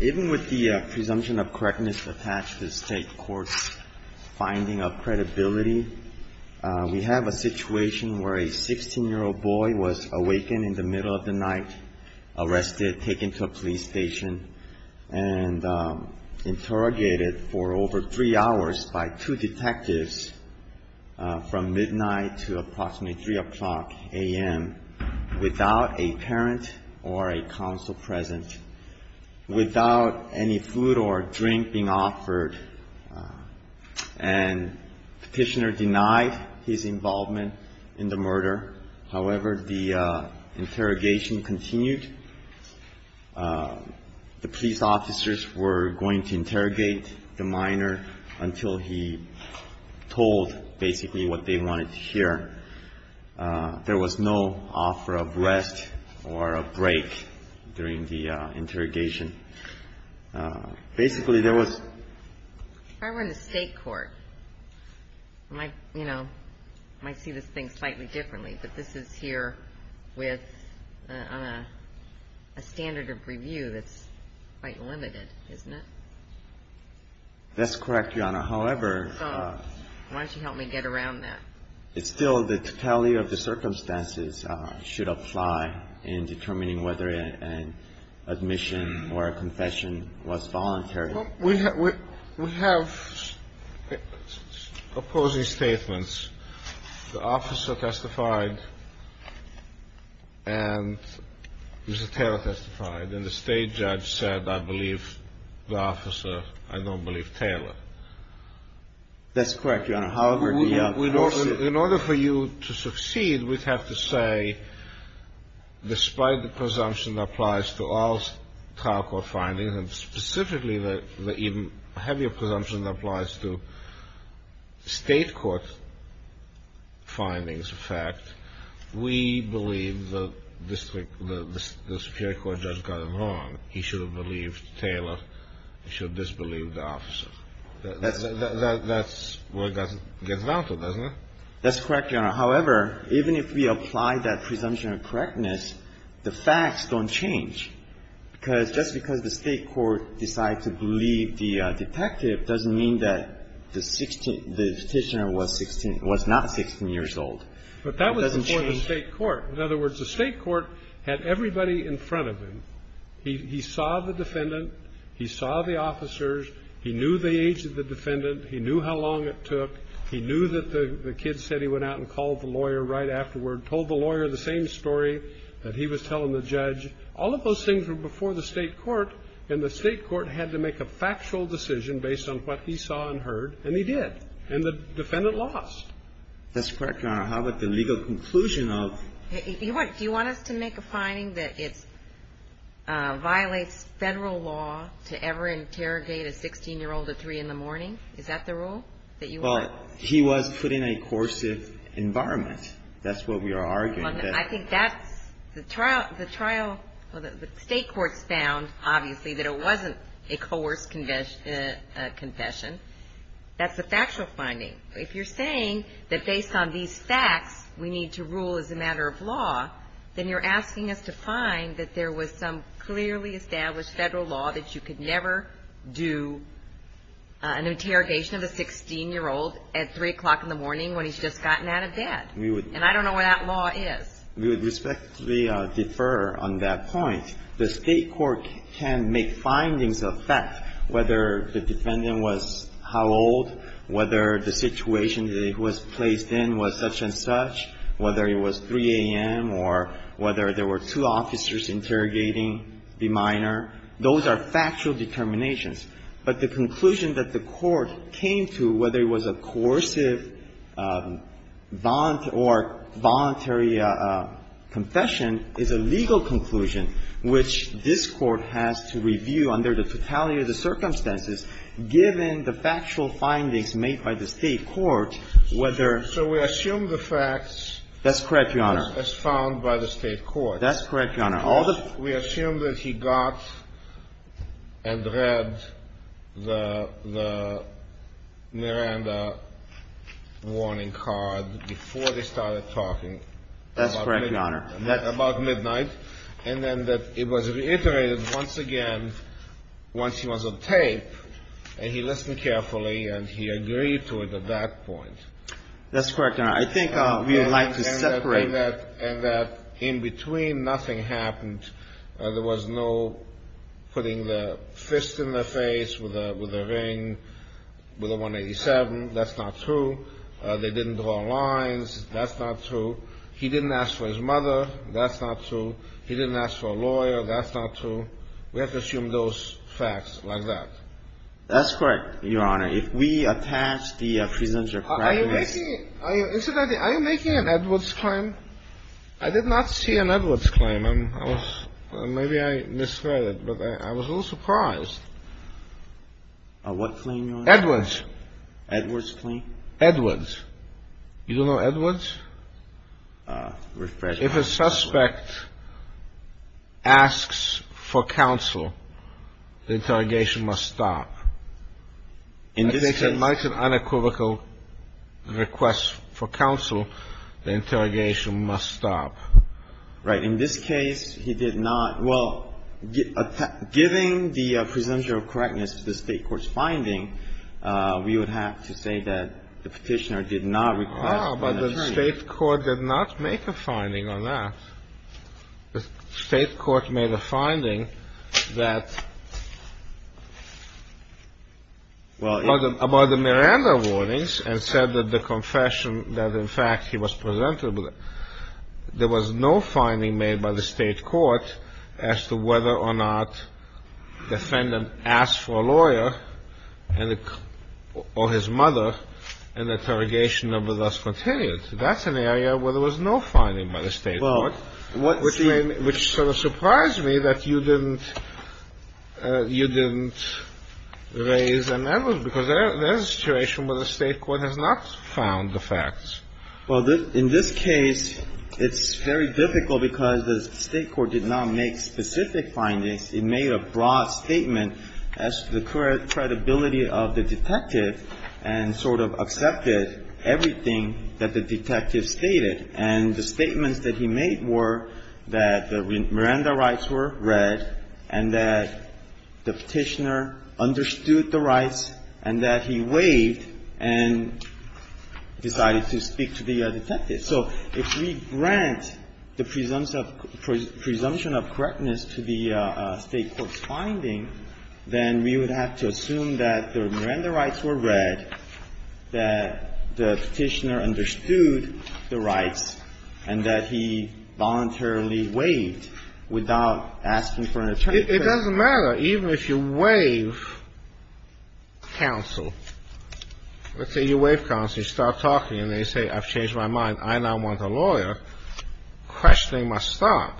Even with the presumption of correctness attached to state courts' finding of credibility, we have a situation where a 16-year-old boy was awakened in the middle of the night, arrested, taken to a police station, and interrogated for over three hours by two detectives from midnight to approximately 3 o'clock a.m. without a parent or a counsel present, without any food or drink being offered. And the petitioner denied his involvement in the murder. However, the interrogation continued. The police officers were going to interrogate the minor until he told basically what they wanted to hear. There was no offer of rest or a break during the interrogation. Basically, there was... If I were in the state court, I might see this thing slightly differently. But this is here with a standard of review that's quite limited, isn't it? That's correct, Your Honor. However... Why don't you help me get around that? It's still the totality of the circumstances should apply in determining whether an admission or a confession was voluntary. We have opposing statements. The officer testified, and Mr. Taylor testified. And the state judge said, I believe the officer. I don't believe Taylor. That's correct, Your Honor. However... In order for you to succeed, we'd have to say, despite the presumption that applies to all trial court findings, and specifically the even heavier presumption that applies to state court findings of fact, we believe that the Superior Court judge got it wrong. He should have believed Taylor. He should have disbelieved the officer. That's where it gets volatile, doesn't it? That's correct, Your Honor. However, even if we apply that presumption of correctness, the facts don't change. Just because the state court decides to believe the detective doesn't mean that the 16th the Petitioner was not 16 years old. It doesn't change... But that was before the state court. In other words, the state court had everybody in front of him. He saw the defendant. He saw the officers. He knew the age of the defendant. He knew how long it took. He knew that the kid said he went out and called the lawyer right afterward, told the lawyer the same story that he was telling the judge. All of those things were before the state court, and the state court had to make a factual decision based on what he saw and heard, and he did. And the defendant lost. That's correct, Your Honor. However, the legal conclusion of... Do you want us to make a finding that it violates federal law to ever interrogate a 16-year-old at 3 in the morning? Is that the rule that you want? Well, he was put in a coercive environment. That's what we are arguing. I think that's the trial. The state court's found, obviously, that it wasn't a coerced confession. That's a factual finding. If you're saying that based on these facts, we need to rule as a matter of law, then you're asking us to find that there was some clearly established federal law that you could never do an interrogation of a 16-year-old at 3 o'clock in the morning when he's just gotten out of bed. And I don't know where that law is. We would respectfully defer on that point. The state court can make findings of fact, whether the defendant was how old, whether the situation that he was placed in was such-and-such, whether it was 3 a.m., or whether there were two officers interrogating the minor. Those are factual determinations. But the conclusion that the Court came to, whether it was a coercive or voluntary confession, is a legal conclusion, which this Court has to review under the totality of the circumstances, given the factual findings made by the state court, whether- So we assume the facts- That's correct, Your Honor. As found by the state court. That's correct, Your Honor. We assume that he got and read the Miranda warning card before they started talking- That's correct, Your Honor. About midnight. And then that it was reiterated once again, once he was on tape, and he listened carefully, and he agreed to it at that point. That's correct, Your Honor. I think we would like to separate- And that in between, nothing happened. There was no putting the fist in the face with a ring, with a 187. That's not true. They didn't draw lines. That's not true. He didn't ask for his mother. That's not true. He didn't ask for a lawyer. That's not true. We have to assume those facts like that. That's correct, Your Honor. If we attach the presumption of correctness- Are you making an Edwards claim? I did not see an Edwards claim. Maybe I misread it, but I was a little surprised. A what claim, Your Honor? Edwards. Edwards claim? Edwards. You don't know Edwards? If a suspect asks for counsel, the interrogation must stop. In this case- If a suspect makes an unequivocal request for counsel, the interrogation must stop. Right. In this case, he did not. Well, giving the presumption of correctness to the State court's finding, we would have to say that the Petitioner did not request- Ah, but the State court did not make a finding on that. The State court made a finding that- Well- About the Miranda warnings and said that the confession that in fact he was presented with, there was no finding made by the State court as to whether or not the defendant asked for a lawyer or his mother, and the interrogation would thus continue. That's an area where there was no finding by the State court, which sort of surprised me that you didn't raise an Edwards because there is a situation where the State court has not found the facts. Well, in this case, it's very difficult because the State court did not make specific findings. It made a broad statement as to the credibility of the detective and sort of accepted everything that the detective stated. And the statements that he made were that the Miranda rights were read and that the Petitioner understood the rights and that he waived and decided to speak to the detective. So if we grant the presumption of correctness to the State court's finding, then we would have to assume that the Miranda rights were read, that the Petitioner understood the rights, and that he voluntarily waived without asking for an attorney. It doesn't matter. Even if you waive counsel. Let's say you waive counsel. You start talking and they say, I've changed my mind. I now want a lawyer. Questioning must stop.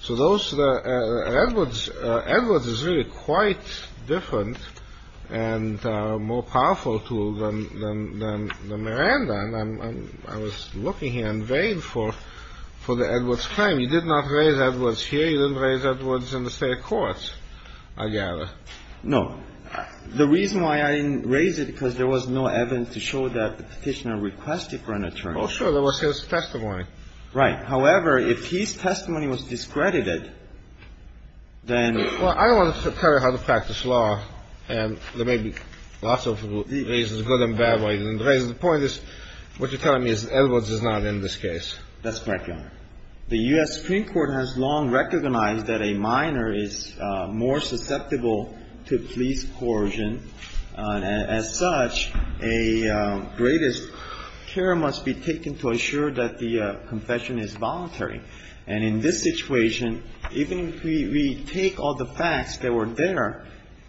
So those are the Edwards. Edwards is really quite different and more powerful tool than Miranda. And I was looking here in vain for the Edwards claim. You did not raise Edwards here. You didn't raise Edwards in the State courts, I gather. No. The reason why I didn't raise it, because there was no evidence to show that the Petitioner requested for an attorney. Oh, sure. There was his testimony. Right. However, if his testimony was discredited, then — Well, I don't want to tell you how to practice law, and there may be lots of reasons, good and bad reasons. The point is, what you're telling me is Edwards is not in this case. That's correct, Your Honor. The U.S. Supreme Court has long recognized that a minor is more susceptible to police coercion. As such, a greatest care must be taken to assure that the confession is voluntary. And in this situation, even if we take all the facts that were there,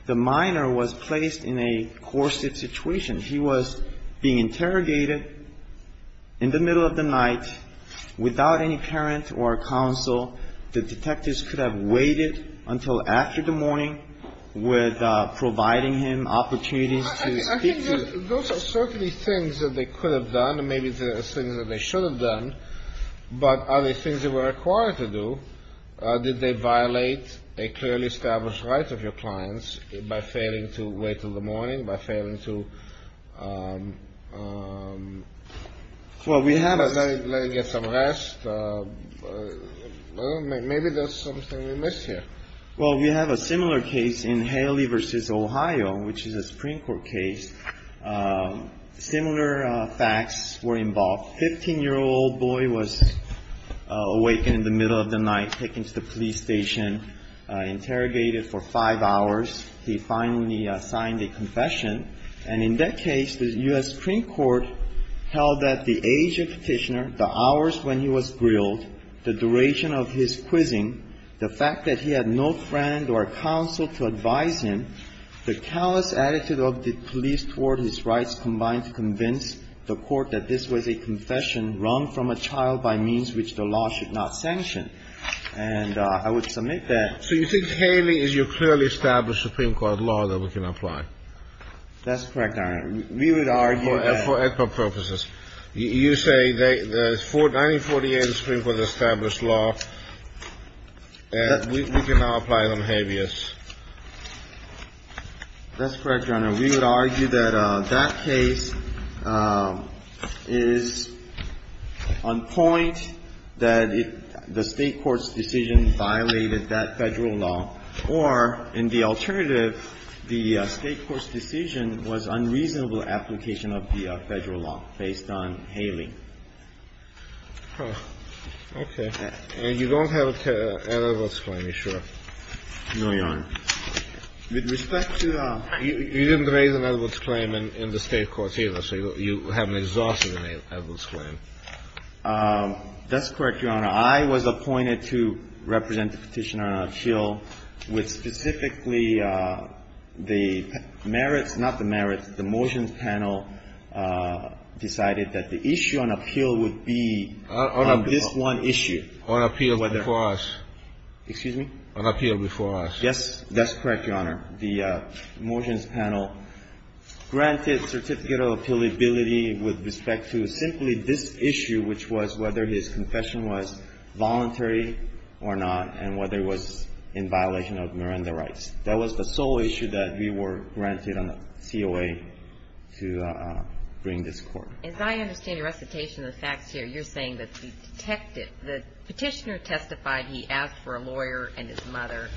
the minor was placed in a coercive situation. He was being interrogated in the middle of the night without any parent or counsel. The detectives could have waited until after the morning with providing him opportunities to speak to him. Those are certainly things that they could have done and maybe things that they should have done. But are they things they were required to do? Did they violate a clearly established right of your clients by failing to wait until the morning, by failing to let him get some rest? Maybe there's something we missed here. Well, we have a similar case in Haley v. Ohio, which is a Supreme Court case. Similar facts were involved. A 15-year-old boy was awakened in the middle of the night, taken to the police station, interrogated for five hours. He finally signed a confession. And in that case, the U.S. Supreme Court held that the age of Petitioner, the hours when he was grilled, the duration of his quizzing, the fact that he had no friend or counsel to advise him, the callous attitude of the police toward his rights combined to convince the Court that this was a confession wrung from a child by means which the law should not sanction. And I would submit that. So you think Haley is your clearly established Supreme Court law that we can apply? That's correct, Your Honor. We would argue that. For equitable purposes. You say 1948 is the Supreme Court's established law, and we can now apply it on Habeas. That's correct, Your Honor. We would argue that that case is on point, that the State court's decision violated that Federal law, or in the alternative, the State court's decision was unreasonable application of the Federal law based on Haley. Okay. And you don't have other votes for me, sure? No, Your Honor. With respect to the ---- You didn't raise an Edwards claim in the State court either, so you haven't exhausted an Edwards claim. That's correct, Your Honor. I was appointed to represent the Petitioner on an appeal with specifically the merits, not the merits, the motions panel decided that the issue on appeal would be on this one issue. On appeal before us. Excuse me? On appeal before us. Yes, that's correct, Your Honor. The motions panel granted certificate of appealability with respect to simply this issue, which was whether his confession was voluntary or not, and whether it was in violation of Miranda rights. That was the sole issue that we were granted on the COA to bring this Court. As I understand the recitation of the facts here, you're saying that the Petitioner testified he asked for a lawyer and his mother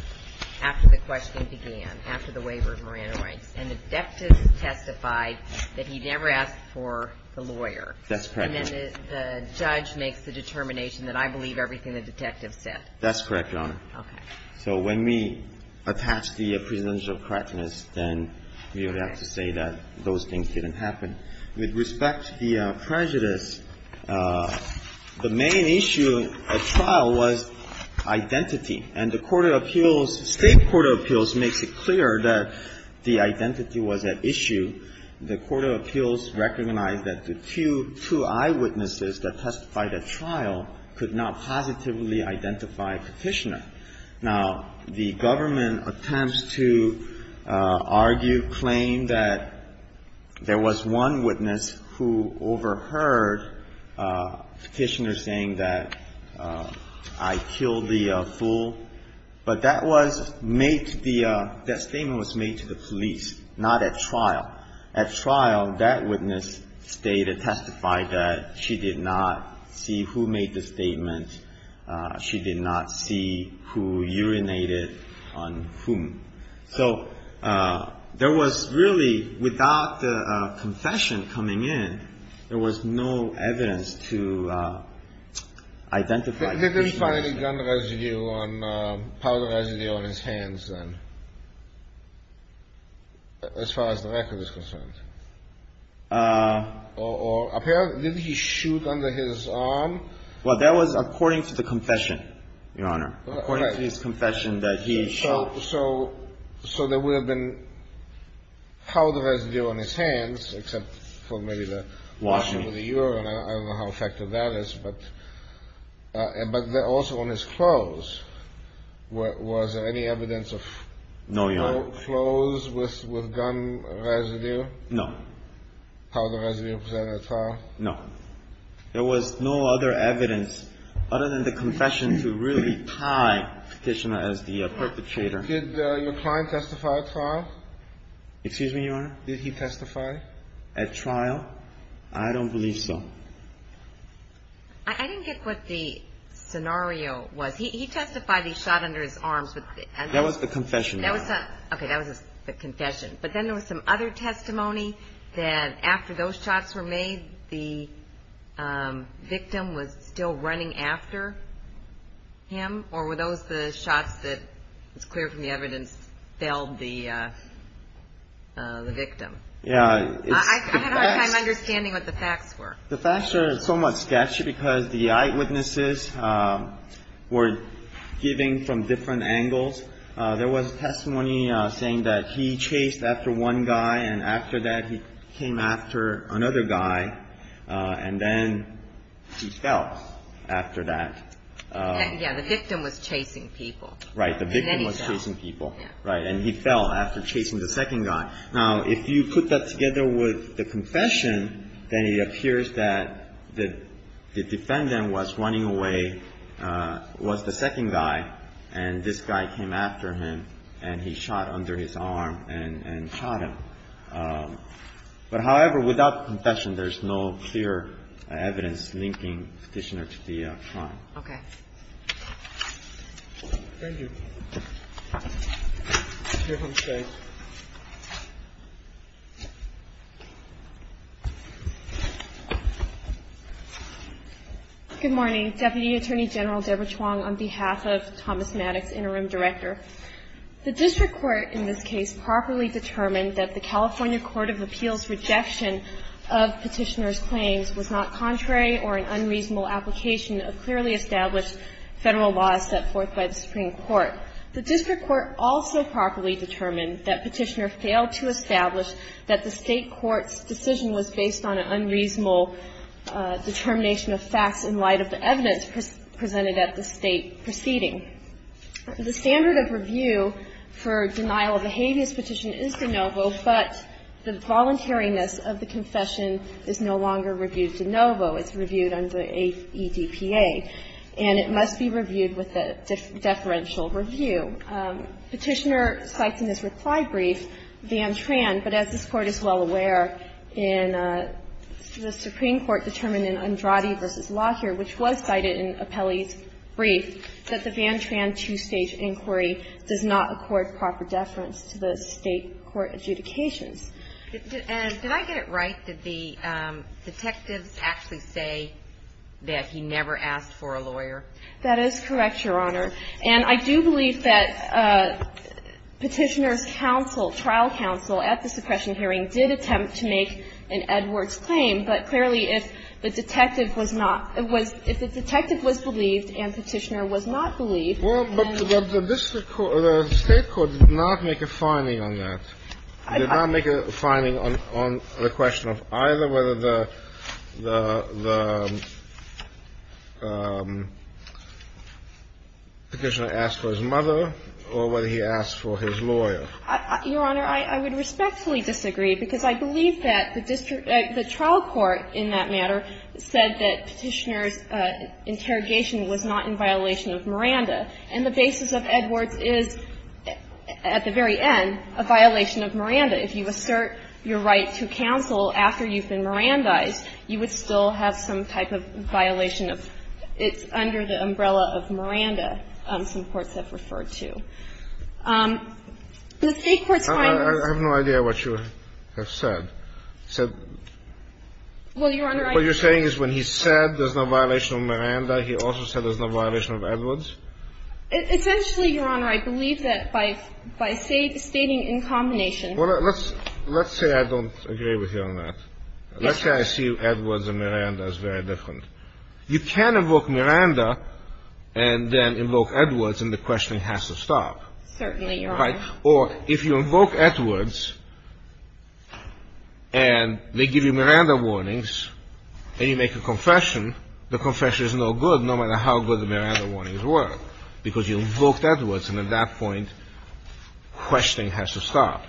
after the question began, after the waiver of Miranda rights, and the deputant testified that he never asked for the lawyer. That's correct, Your Honor. And then the judge makes the determination that I believe everything the detective said. That's correct, Your Honor. Okay. So when we attach the presidential correctness, then we would have to say that those things didn't happen. With respect to the prejudice, the main issue at trial was identity. And the Court of Appeals, State Court of Appeals, makes it clear that the identity was at issue. The Court of Appeals recognized that the two eyewitnesses that testified at trial could not positively identify Petitioner. Now, the government attempts to argue, claim that there was one witness who overheard Petitioner saying that I killed the fool, but that was made to the – that statement was made to the police, not at trial. At trial, that witness stated, testified that she did not see who made the statement. She did not see who urinated on whom. So there was really, without the confession coming in, there was no evidence to identify Petitioner. Did he find any gun residue on – powder residue on his hands then, as far as the record is concerned? Or apparently – did he shoot under his arm? Well, that was according to the confession, Your Honor. According to his confession that he shot – So there would have been powder residue on his hands, except for maybe the washing of the urine. I don't know how effective that is. But also on his clothes. Was there any evidence of clothes with gun residue? No. Powder residue presented at trial? No. There was no other evidence, other than the confession, to really tie Petitioner as the perpetrator. Did your client testify at trial? Excuse me, Your Honor? Did he testify? At trial? I don't believe so. I didn't get what the scenario was. He testified he shot under his arms. That was the confession, Your Honor. Okay. That was the confession. But then there was some other testimony that after those shots were made, the victim was still running after him? Or were those the shots that, it's clear from the evidence, felled the victim? Yeah. I had a hard time understanding what the facts were. The facts are somewhat sketchy because the eyewitnesses were giving from different angles. There was testimony saying that he chased after one guy, and after that he came after another guy, and then he fell after that. Yeah. The victim was chasing people. Right. The victim was chasing people. Right. And he fell after chasing the second guy. Now, if you put that together with the confession, then it appears that the defendant was running away, was the second guy, and this guy came after him, and he shot under his arm and shot him. But, however, without confession, there's no clear evidence linking the petitioner to the crime. Okay. Thank you. Your Honor, please. Good morning. Deputy Attorney General Deborah Chuang, on behalf of Thomas Maddox, Interim Director. The district court in this case properly determined that the California Court of Appeals' rejection of petitioner's claims was not contrary or an unreasonable application of clearly established federal laws set forth by the Supreme Court. The district court also properly determined that petitioner failed to establish that the state court's decision was based on an unreasonable determination of facts in light of the evidence presented at the state proceeding. The standard of review for denial of behaviors petition is de novo, but the voluntariness of the confession is no longer reviewed de novo. It's reviewed under ADPA, and it must be reviewed with a deferential review. Petitioner cites in his reply brief Van Tran, but as this Court is well aware, the Supreme Court determined in Andrade v. Lockyer, which was cited in Apelli's brief, that the Van Tran two-stage inquiry does not accord proper deference to the state court adjudications. And did I get it right? Did the detectives actually say that he never asked for a lawyer? That is correct, Your Honor. And I do believe that Petitioner's counsel, trial counsel, at the suppression hearing did attempt to make an Edwards claim. But clearly, if the detective was not – if the detective was believed and Petitioner was not believed, then the state court did not make a finding on that. It did not make a finding on the question of either whether the Petitioner asked for his mother or whether he asked for his lawyer. Your Honor, I would respectfully disagree, because I believe that the trial court in that matter said that Petitioner's interrogation was not in violation of Miranda. And the basis of Edwards is, at the very end, a violation of Miranda. If you assert your right to counsel after you've been Mirandized, you would still have some type of violation of – it's under the umbrella of Miranda, some courts have referred to. The state court's findings – I have no idea what you have said. Well, Your Honor, I – What you're saying is when he said there's no violation of Miranda, he also said there's no violation of Edwards? Essentially, Your Honor, I believe that by stating in combination – Well, let's say I don't agree with you on that. Let's say I see Edwards and Miranda as very different. You can invoke Miranda and then invoke Edwards, and the questioning has to stop. Certainly, Your Honor. Right? Or if you invoke Edwards and they give you Miranda warnings and you make a confession, the confession is no good, no matter how good the Miranda warnings were, because you invoked Edwards, and at that point, questioning has to stop.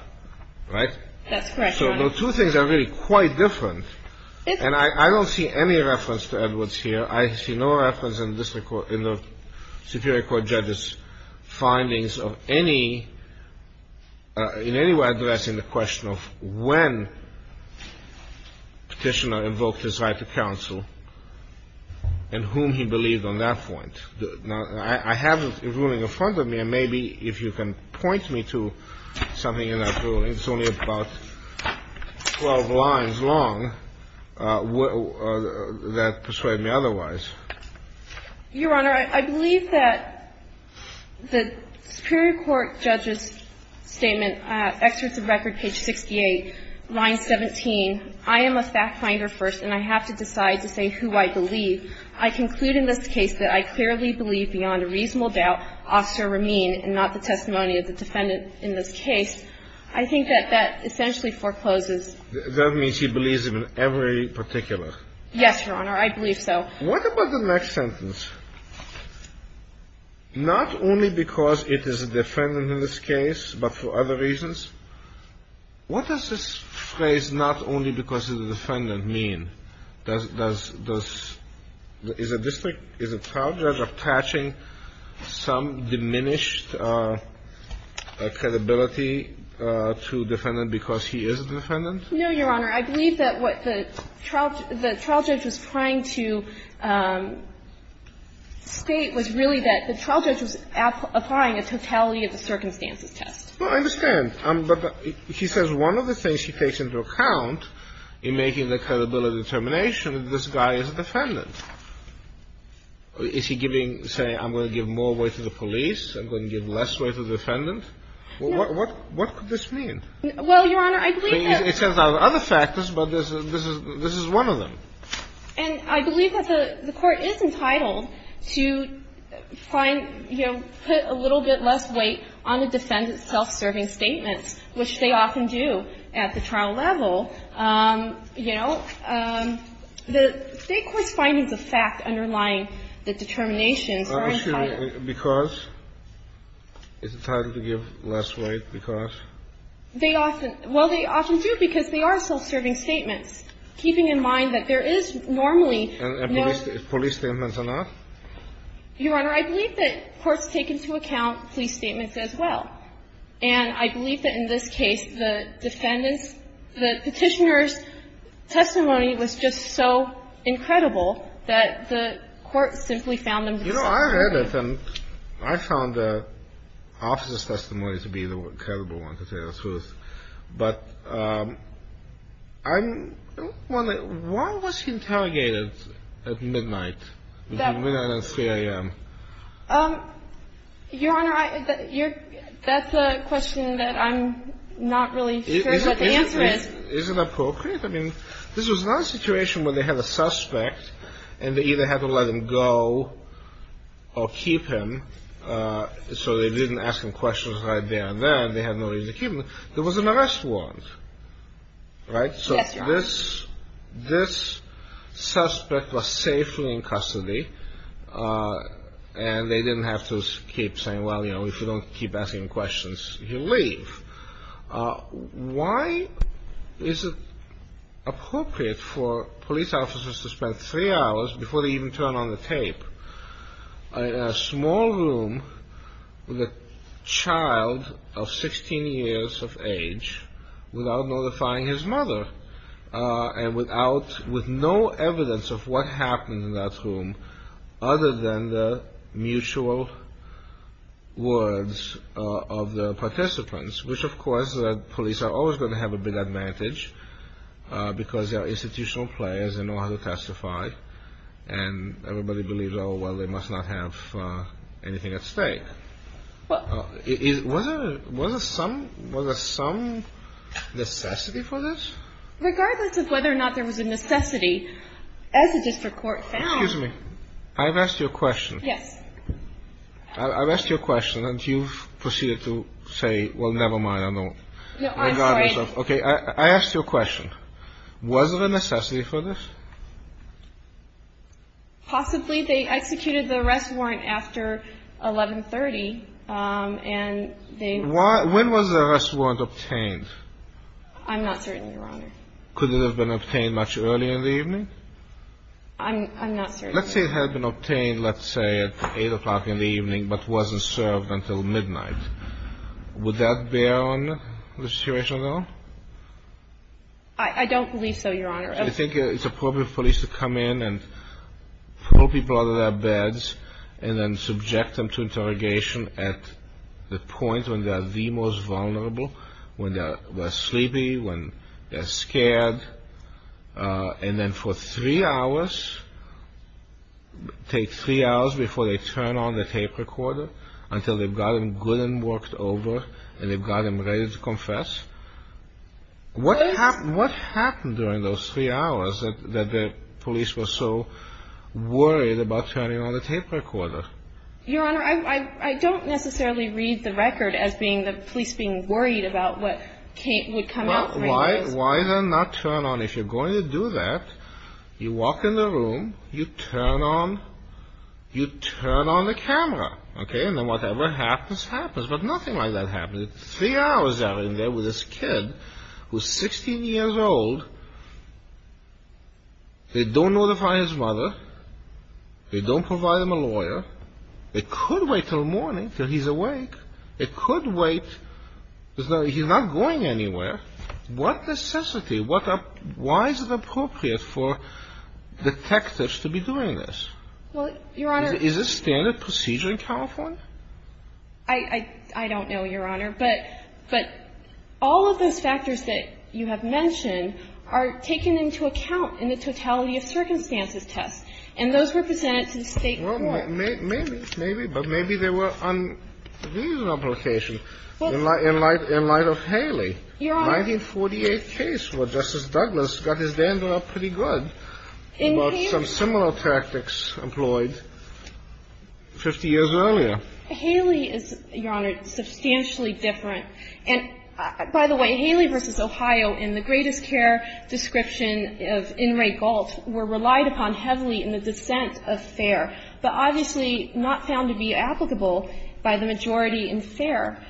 Right? That's correct, Your Honor. So the two things are really quite different. And I don't see any reference to Edwards here. I see no reference in the Superior Court judges' findings of any – in any way addressing the question of when Petitioner invoked his right to counsel and whom he believed on that point. Now, I have a ruling in front of me, and maybe if you can point me to something in that ruling. It's only about 12 lines long that persuade me otherwise. Your Honor, I believe that the Superior Court judges' statement, excerpts of record, page 68, line 17, I am a fact finder first, and I have to decide to say who I believe. I conclude in this case that I clearly believe beyond a reasonable doubt Officer Rameen and not the testimony of the defendant in this case. I think that that essentially forecloses. That means she believes him in every particular. Yes, Your Honor. I believe so. What about the next sentence? Not only because it is a defendant in this case, but for other reasons. What does this phrase, not only because it's a defendant, mean? Does – is a district – is a trial judge attaching some diminished credibility to defendant because he is a defendant? No, Your Honor. I believe that what the trial judge was trying to state was really that the trial judge was applying a totality of the circumstances test. Well, I understand. But he says one of the things he takes into account in making the credibility determination is this guy is a defendant. Is he giving – saying I'm going to give more weight to the police, I'm going to give less weight to the defendant? What could this mean? Well, Your Honor, I believe that – It turns out other factors, but this is one of them. And I believe that the Court is entitled to find, you know, put a little bit less weight on the defendant's self-serving statements, which they often do at the trial level. You know, the State court's findings of fact underlying the determinations are entitled. Because? It's entitled to give less weight because? They often – well, they often do because they are self-serving statements, keeping in mind that there is normally no – And police statements are not? Your Honor, I believe that courts take into account police statements as well. And I believe that in this case, the defendant's – the Petitioner's testimony You know, I read it, and I found the officer's testimony to be the credible one, to tell you the truth. But I'm – why was he interrogated at midnight? Between midnight and 3 a.m.? Your Honor, that's a question that I'm not really sure what the answer is. Is it appropriate? I mean, this was not a situation where they had a suspect, and they either had to let him go or keep him so they didn't ask him questions right there and then. They had no reason to keep him. There was an arrest warrant, right? Yes, Your Honor. So this suspect was safely in custody, and they didn't have to keep saying, well, you know, if you don't keep asking questions, you leave. Why is it appropriate for police officers to spend three hours, before they even turn on the tape, in a small room with a child of 16 years of age, without notifying his mother, and without – with no evidence of what happened in that room, other than the mutual words of the participants? Which, of course, police are always going to have a big advantage, because they're institutional players and know how to testify, and everybody believes, oh, well, they must not have anything at stake. Was there some necessity for this? Regardless of whether or not there was a necessity, as the district court found – Excuse me. I've asked you a question. Yes. I've asked you a question, and you've proceeded to say, well, never mind, I don't – No, I'm sorry. Okay. I asked you a question. Was there a necessity for this? Possibly. They executed the arrest warrant after 1130, and they – When was the arrest warrant obtained? I'm not certain, Your Honor. Could it have been obtained much earlier in the evening? I'm not certain. Let's say it had been obtained, let's say, at 8 o'clock in the evening, but wasn't served until midnight. Would that bear on the situation at all? I don't believe so, Your Honor. I think it's appropriate for police to come in and pull people out of their beds and then subject them to interrogation at the point when they are the most vulnerable, when they're sleepy, when they're scared, and then for three hours, take three hours before they turn on the tape recorder until they've got them good and worked over and they've got them ready to confess. What happened during those three hours that the police were so worried about turning on the tape recorder? Your Honor, I don't necessarily read the record as being the police being worried about what would come out. Well, why then not turn on? If you're going to do that, you walk in the room, you turn on the camera, okay? And then whatever happens, happens. But nothing like that happened. Three hours out in there with this kid who's 16 years old. They don't notify his mother. They don't provide him a lawyer. They could wait until morning, until he's awake. They could wait. He's not going anywhere. What necessity, why is it appropriate for detectives to be doing this? Well, Your Honor. Is this standard procedure in California? I don't know, Your Honor. But all of those factors that you have mentioned are taken into account in the totality of circumstances test. And those were presented to the State Court. Well, maybe. Maybe. But maybe there were unreasonable implications in light of Haley. Your Honor. A 1948 case where Justice Douglas got his dander up pretty good about some similar tactics employed 50 years earlier. Haley is, Your Honor, substantially different. And, by the way, Haley v. Ohio, in the greatest care description of In re Gault, were relied upon heavily in the dissent of Fair, but obviously not found to be applicable by the majority in Fair,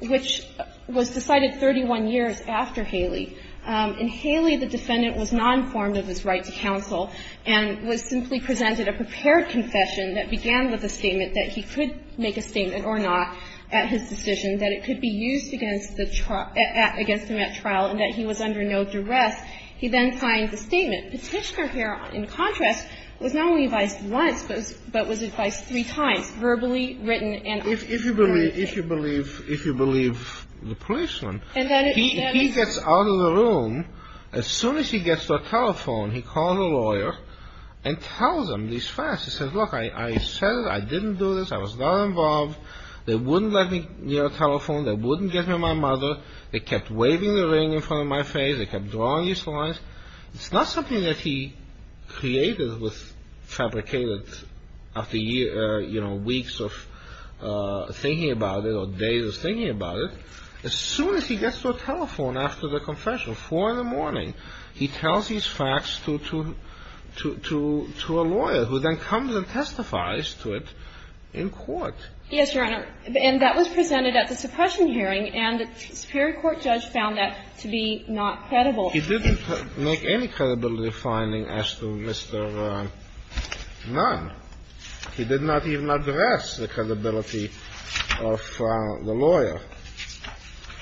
which was decided 31 years after Haley. In Haley, the defendant was not informed of his right to counsel and was simply presented a prepared confession that began with a statement that he could make a statement or not at his decision, that it could be used against the trial, against him at trial, and that he was under no duress. He then signed the statement. Petitioner here, in contrast, was not only advised once, but was advised three times, verbally, written, and on the record. If you believe the policeman, he gets out of the room. As soon as he gets to a telephone, he calls a lawyer and tells him these facts. He says, look, I said it. I didn't do this. I was not involved. They wouldn't let me near a telephone. They wouldn't get me to my mother. They kept waving the ring in front of my face. They kept drawing these lines. It's not something that he created, fabricated after weeks of thinking about it or days of thinking about it. As soon as he gets to a telephone after the confession, 4 in the morning, he tells these facts to a lawyer, who then comes and testifies to it in court. Yes, Your Honor. And that was presented at the suppression hearing, and a superior court judge found that to be not credible. He didn't make any credibility finding as to Mr. Nunn. He did not even address the credibility of the lawyer.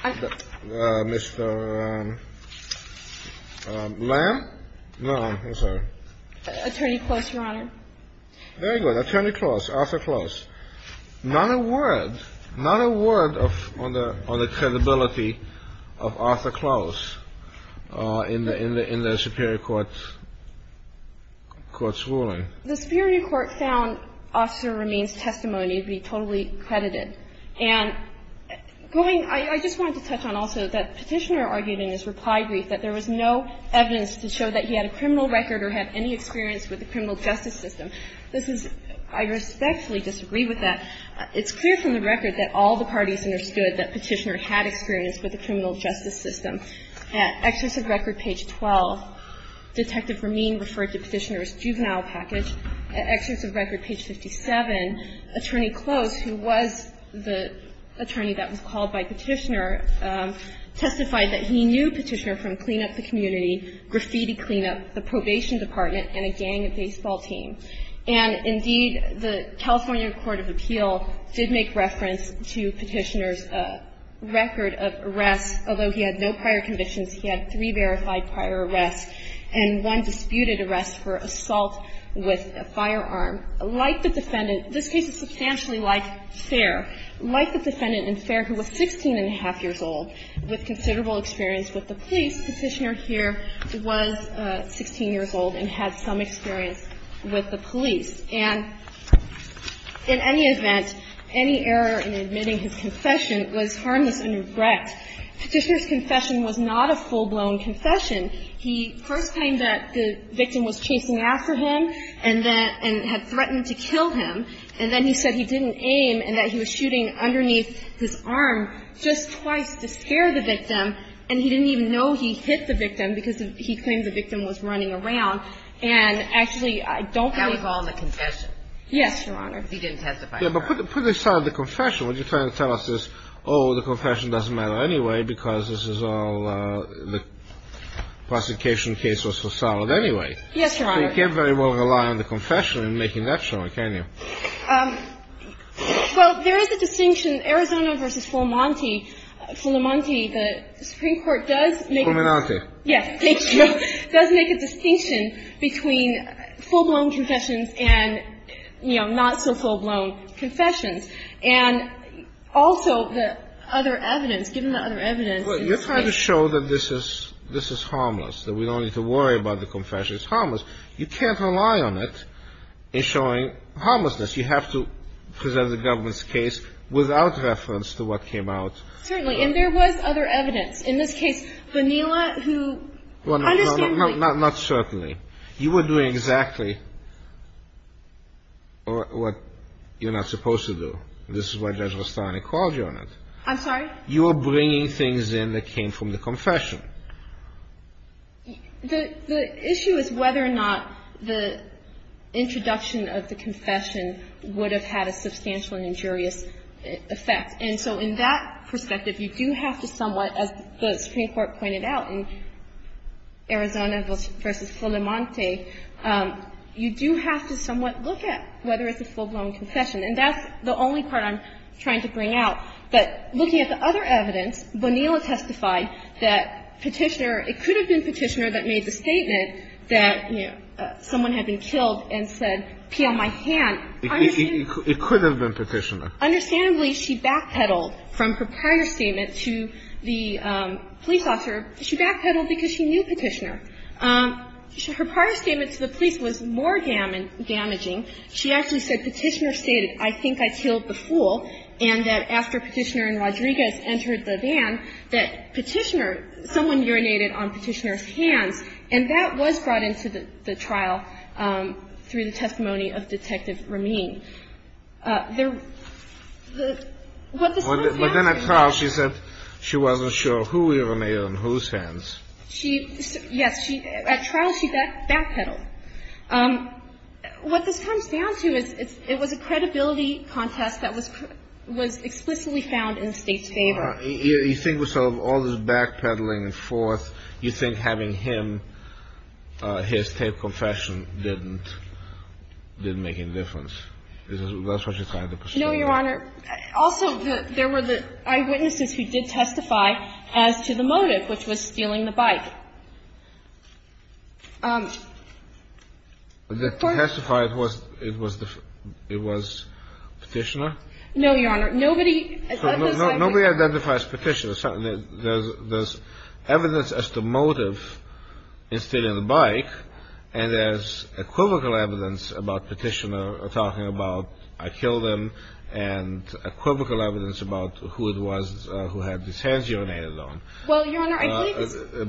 Mr. Lamb? No, I'm sorry. Attorney Close, Your Honor. Very good. Attorney Close. Arthur Close. Not a word. Not a word on the credibility of Arthur Close in the superior court's ruling. The superior court found Officer Ramin's testimony to be totally credited. And going – I just wanted to touch on also that Petitioner argued in his reply brief that there was no evidence to show that he had a criminal record or had any experience with the criminal justice system. This is – I respectfully disagree with that. It's clear from the record that all the parties understood that Petitioner had experience with the criminal justice system. At Excerpts of Record, page 12, Detective Ramin referred to Petitioner's juvenile package. At Excerpts of Record, page 57, Attorney Close, who was the attorney that was called by Petitioner, testified that he knew Petitioner from clean-up the community, graffiti clean-up, the probation department, and a gang baseball team. And indeed, the California court of appeal did make reference to Petitioner's record of arrests. Although he had no prior convictions, he had three verified prior arrests and one disputed arrest for assault with a firearm. Like the defendant – this case is substantially like Fair. Like the defendant in Fair, who was 16-and-a-half years old, with considerable experience with the police, Petitioner here was 16 years old and had some experience with the police. And in any event, any error in admitting his confession was harmless in regret. Petitioner's confession was not a full-blown confession. He first claimed that the victim was chasing after him and that – and had threatened to kill him, and then he said he didn't aim and that he was shooting underneath his arm just twice to scare the victim, and he didn't even know he hit the victim because he claimed the victim was running around. And actually, I don't think – That was all in the confession. Yes, Your Honor. He didn't testify to the crime. Yes, but put aside the confession. What you're trying to tell us is, oh, the confession doesn't matter anyway because this is all – the prosecution case was so solid anyway. Yes, Your Honor. So you can't very well rely on the confession in making that showing, can you? Well, there is a distinction. Arizona v. Fulamonti – Fulamonti, the Supreme Court does make a – Fulminante. Yes. It does make a distinction between full-blown confessions and, you know, not-so-full-blown confessions. And also, the other evidence – given the other evidence – Well, you're trying to show that this is – this is harmless, that we don't need to worry about the confession. It's harmless. You can't rely on it in showing harmlessness. You have to present the government's case without reference to what came out. Certainly. And there was other evidence. In this case, Vanila, who – Not certainly. You were doing exactly what you're not supposed to do. This is why Judge Vastani called you on it. I'm sorry? You were bringing things in that came from the confession. The issue is whether or not the introduction of the confession would have had a substantial and injurious effect. And so in that perspective, you do have to somewhat, as the Supreme Court pointed out in Arizona v. Fulamonti, you do have to somewhat look at whether it's a full-blown confession. And that's the only part I'm trying to bring out. But looking at the other evidence, Vanila testified that Petitioner – it could have been Petitioner that made the statement that someone had been killed and said, peel my hand. It could have been Petitioner. Understandably, she backpedaled from her prior statement to the police officer. She backpedaled because she knew Petitioner. Her prior statement to the police was more damaging. She actually said Petitioner stated, I think I killed the fool, and that after Petitioner and Rodriguez entered the van, that Petitioner – someone urinated on Petitioner's hands. And that was brought into the trial through the testimony of Detective Rameen. There – what the Supreme Court – But then at trial, she said she wasn't sure who urinated on whose hands. She – yes. At trial, she backpedaled. What this comes down to is it's – it was a credibility contest that was – was explicitly found in the State's favor. You think with all this backpedaling and forth, you think having him – his taped confession didn't – didn't make any difference? Is that what you're trying to pursue? No, Your Honor. Also, there were the eyewitnesses who did testify as to the motive, which was stealing the bike. The court – That testified was – it was the – it was Petitioner? No, Your Honor. Nobody – Nobody identifies Petitioner. There's evidence as to motive in stealing the bike, and there's equivocal evidence about Petitioner talking about, I killed him, and equivocal evidence about who it was who had his hands urinated on. Well, Your Honor, I believe it's –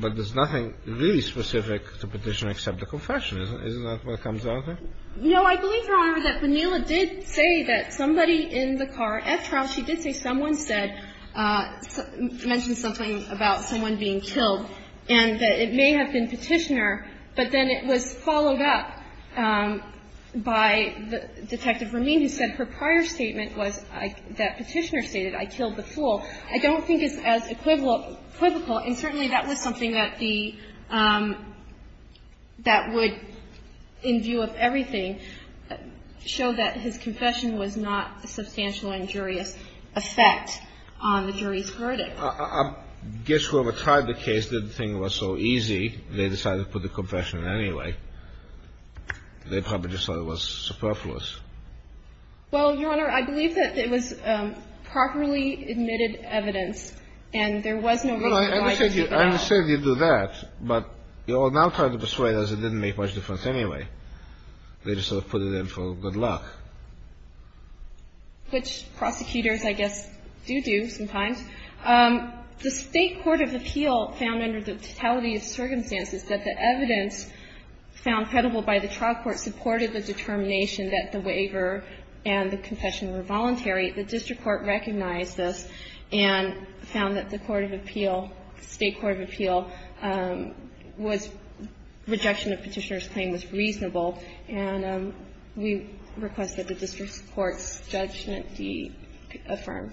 But there's nothing really specific to Petitioner except the confession. Isn't that what comes down to? I believe, Your Honor, that Vanila did say that somebody in the car at trial, she did say someone said – mentioned something about someone being killed, and that it may have been Petitioner, but then it was followed up by Detective Romine, who said her prior statement was that Petitioner stated, I killed the fool. I don't think it's as equivocal, and certainly that was something that the – that would, in view of everything, show that his confession was not a substantial injurious effect on the jury's verdict. I guess whoever tried the case didn't think it was so easy. They decided to put the confession anyway. They probably just thought it was superfluous. Well, Your Honor, I believe that it was properly admitted evidence, and there was no reason why to take it out. I understand you do that, but you're now trying to persuade us it didn't make much difference anyway. They just sort of put it in for good luck. Which prosecutors, I guess, do do sometimes. The State Court of Appeal found under the totality of circumstances that the evidence found credible by the trial court supported the determination that the waiver and the confession were voluntary. The district court recognized this and found that the court of appeal, State Court of Appeal, was – rejection of Petitioner's claim was reasonable, and we request that the district court's judgment be affirmed.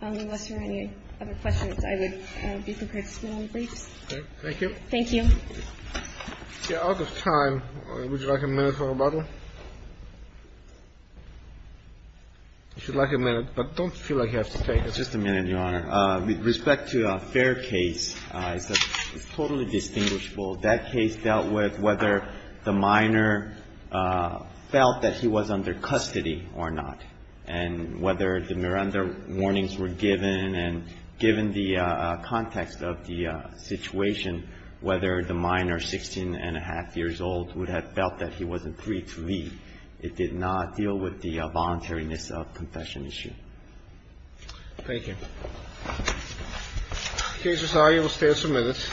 Unless there are any other questions, I would be prepared to submit all the briefs. Thank you. Thank you. Yeah. Out of time, would you like a minute for rebuttal? If you'd like a minute, but don't feel like you have to take it. Just a minute, Your Honor. With respect to Fair case, it's totally distinguishable. That case dealt with whether the minor felt that he was under custody or not, and whether the Miranda warnings were given, and given the context of the situation, whether the minor, 16 and a half years old, would have felt that he wasn't free to leave. It did not deal with the voluntariness of confession issue. Thank you. The case is argued. We'll stand for minutes.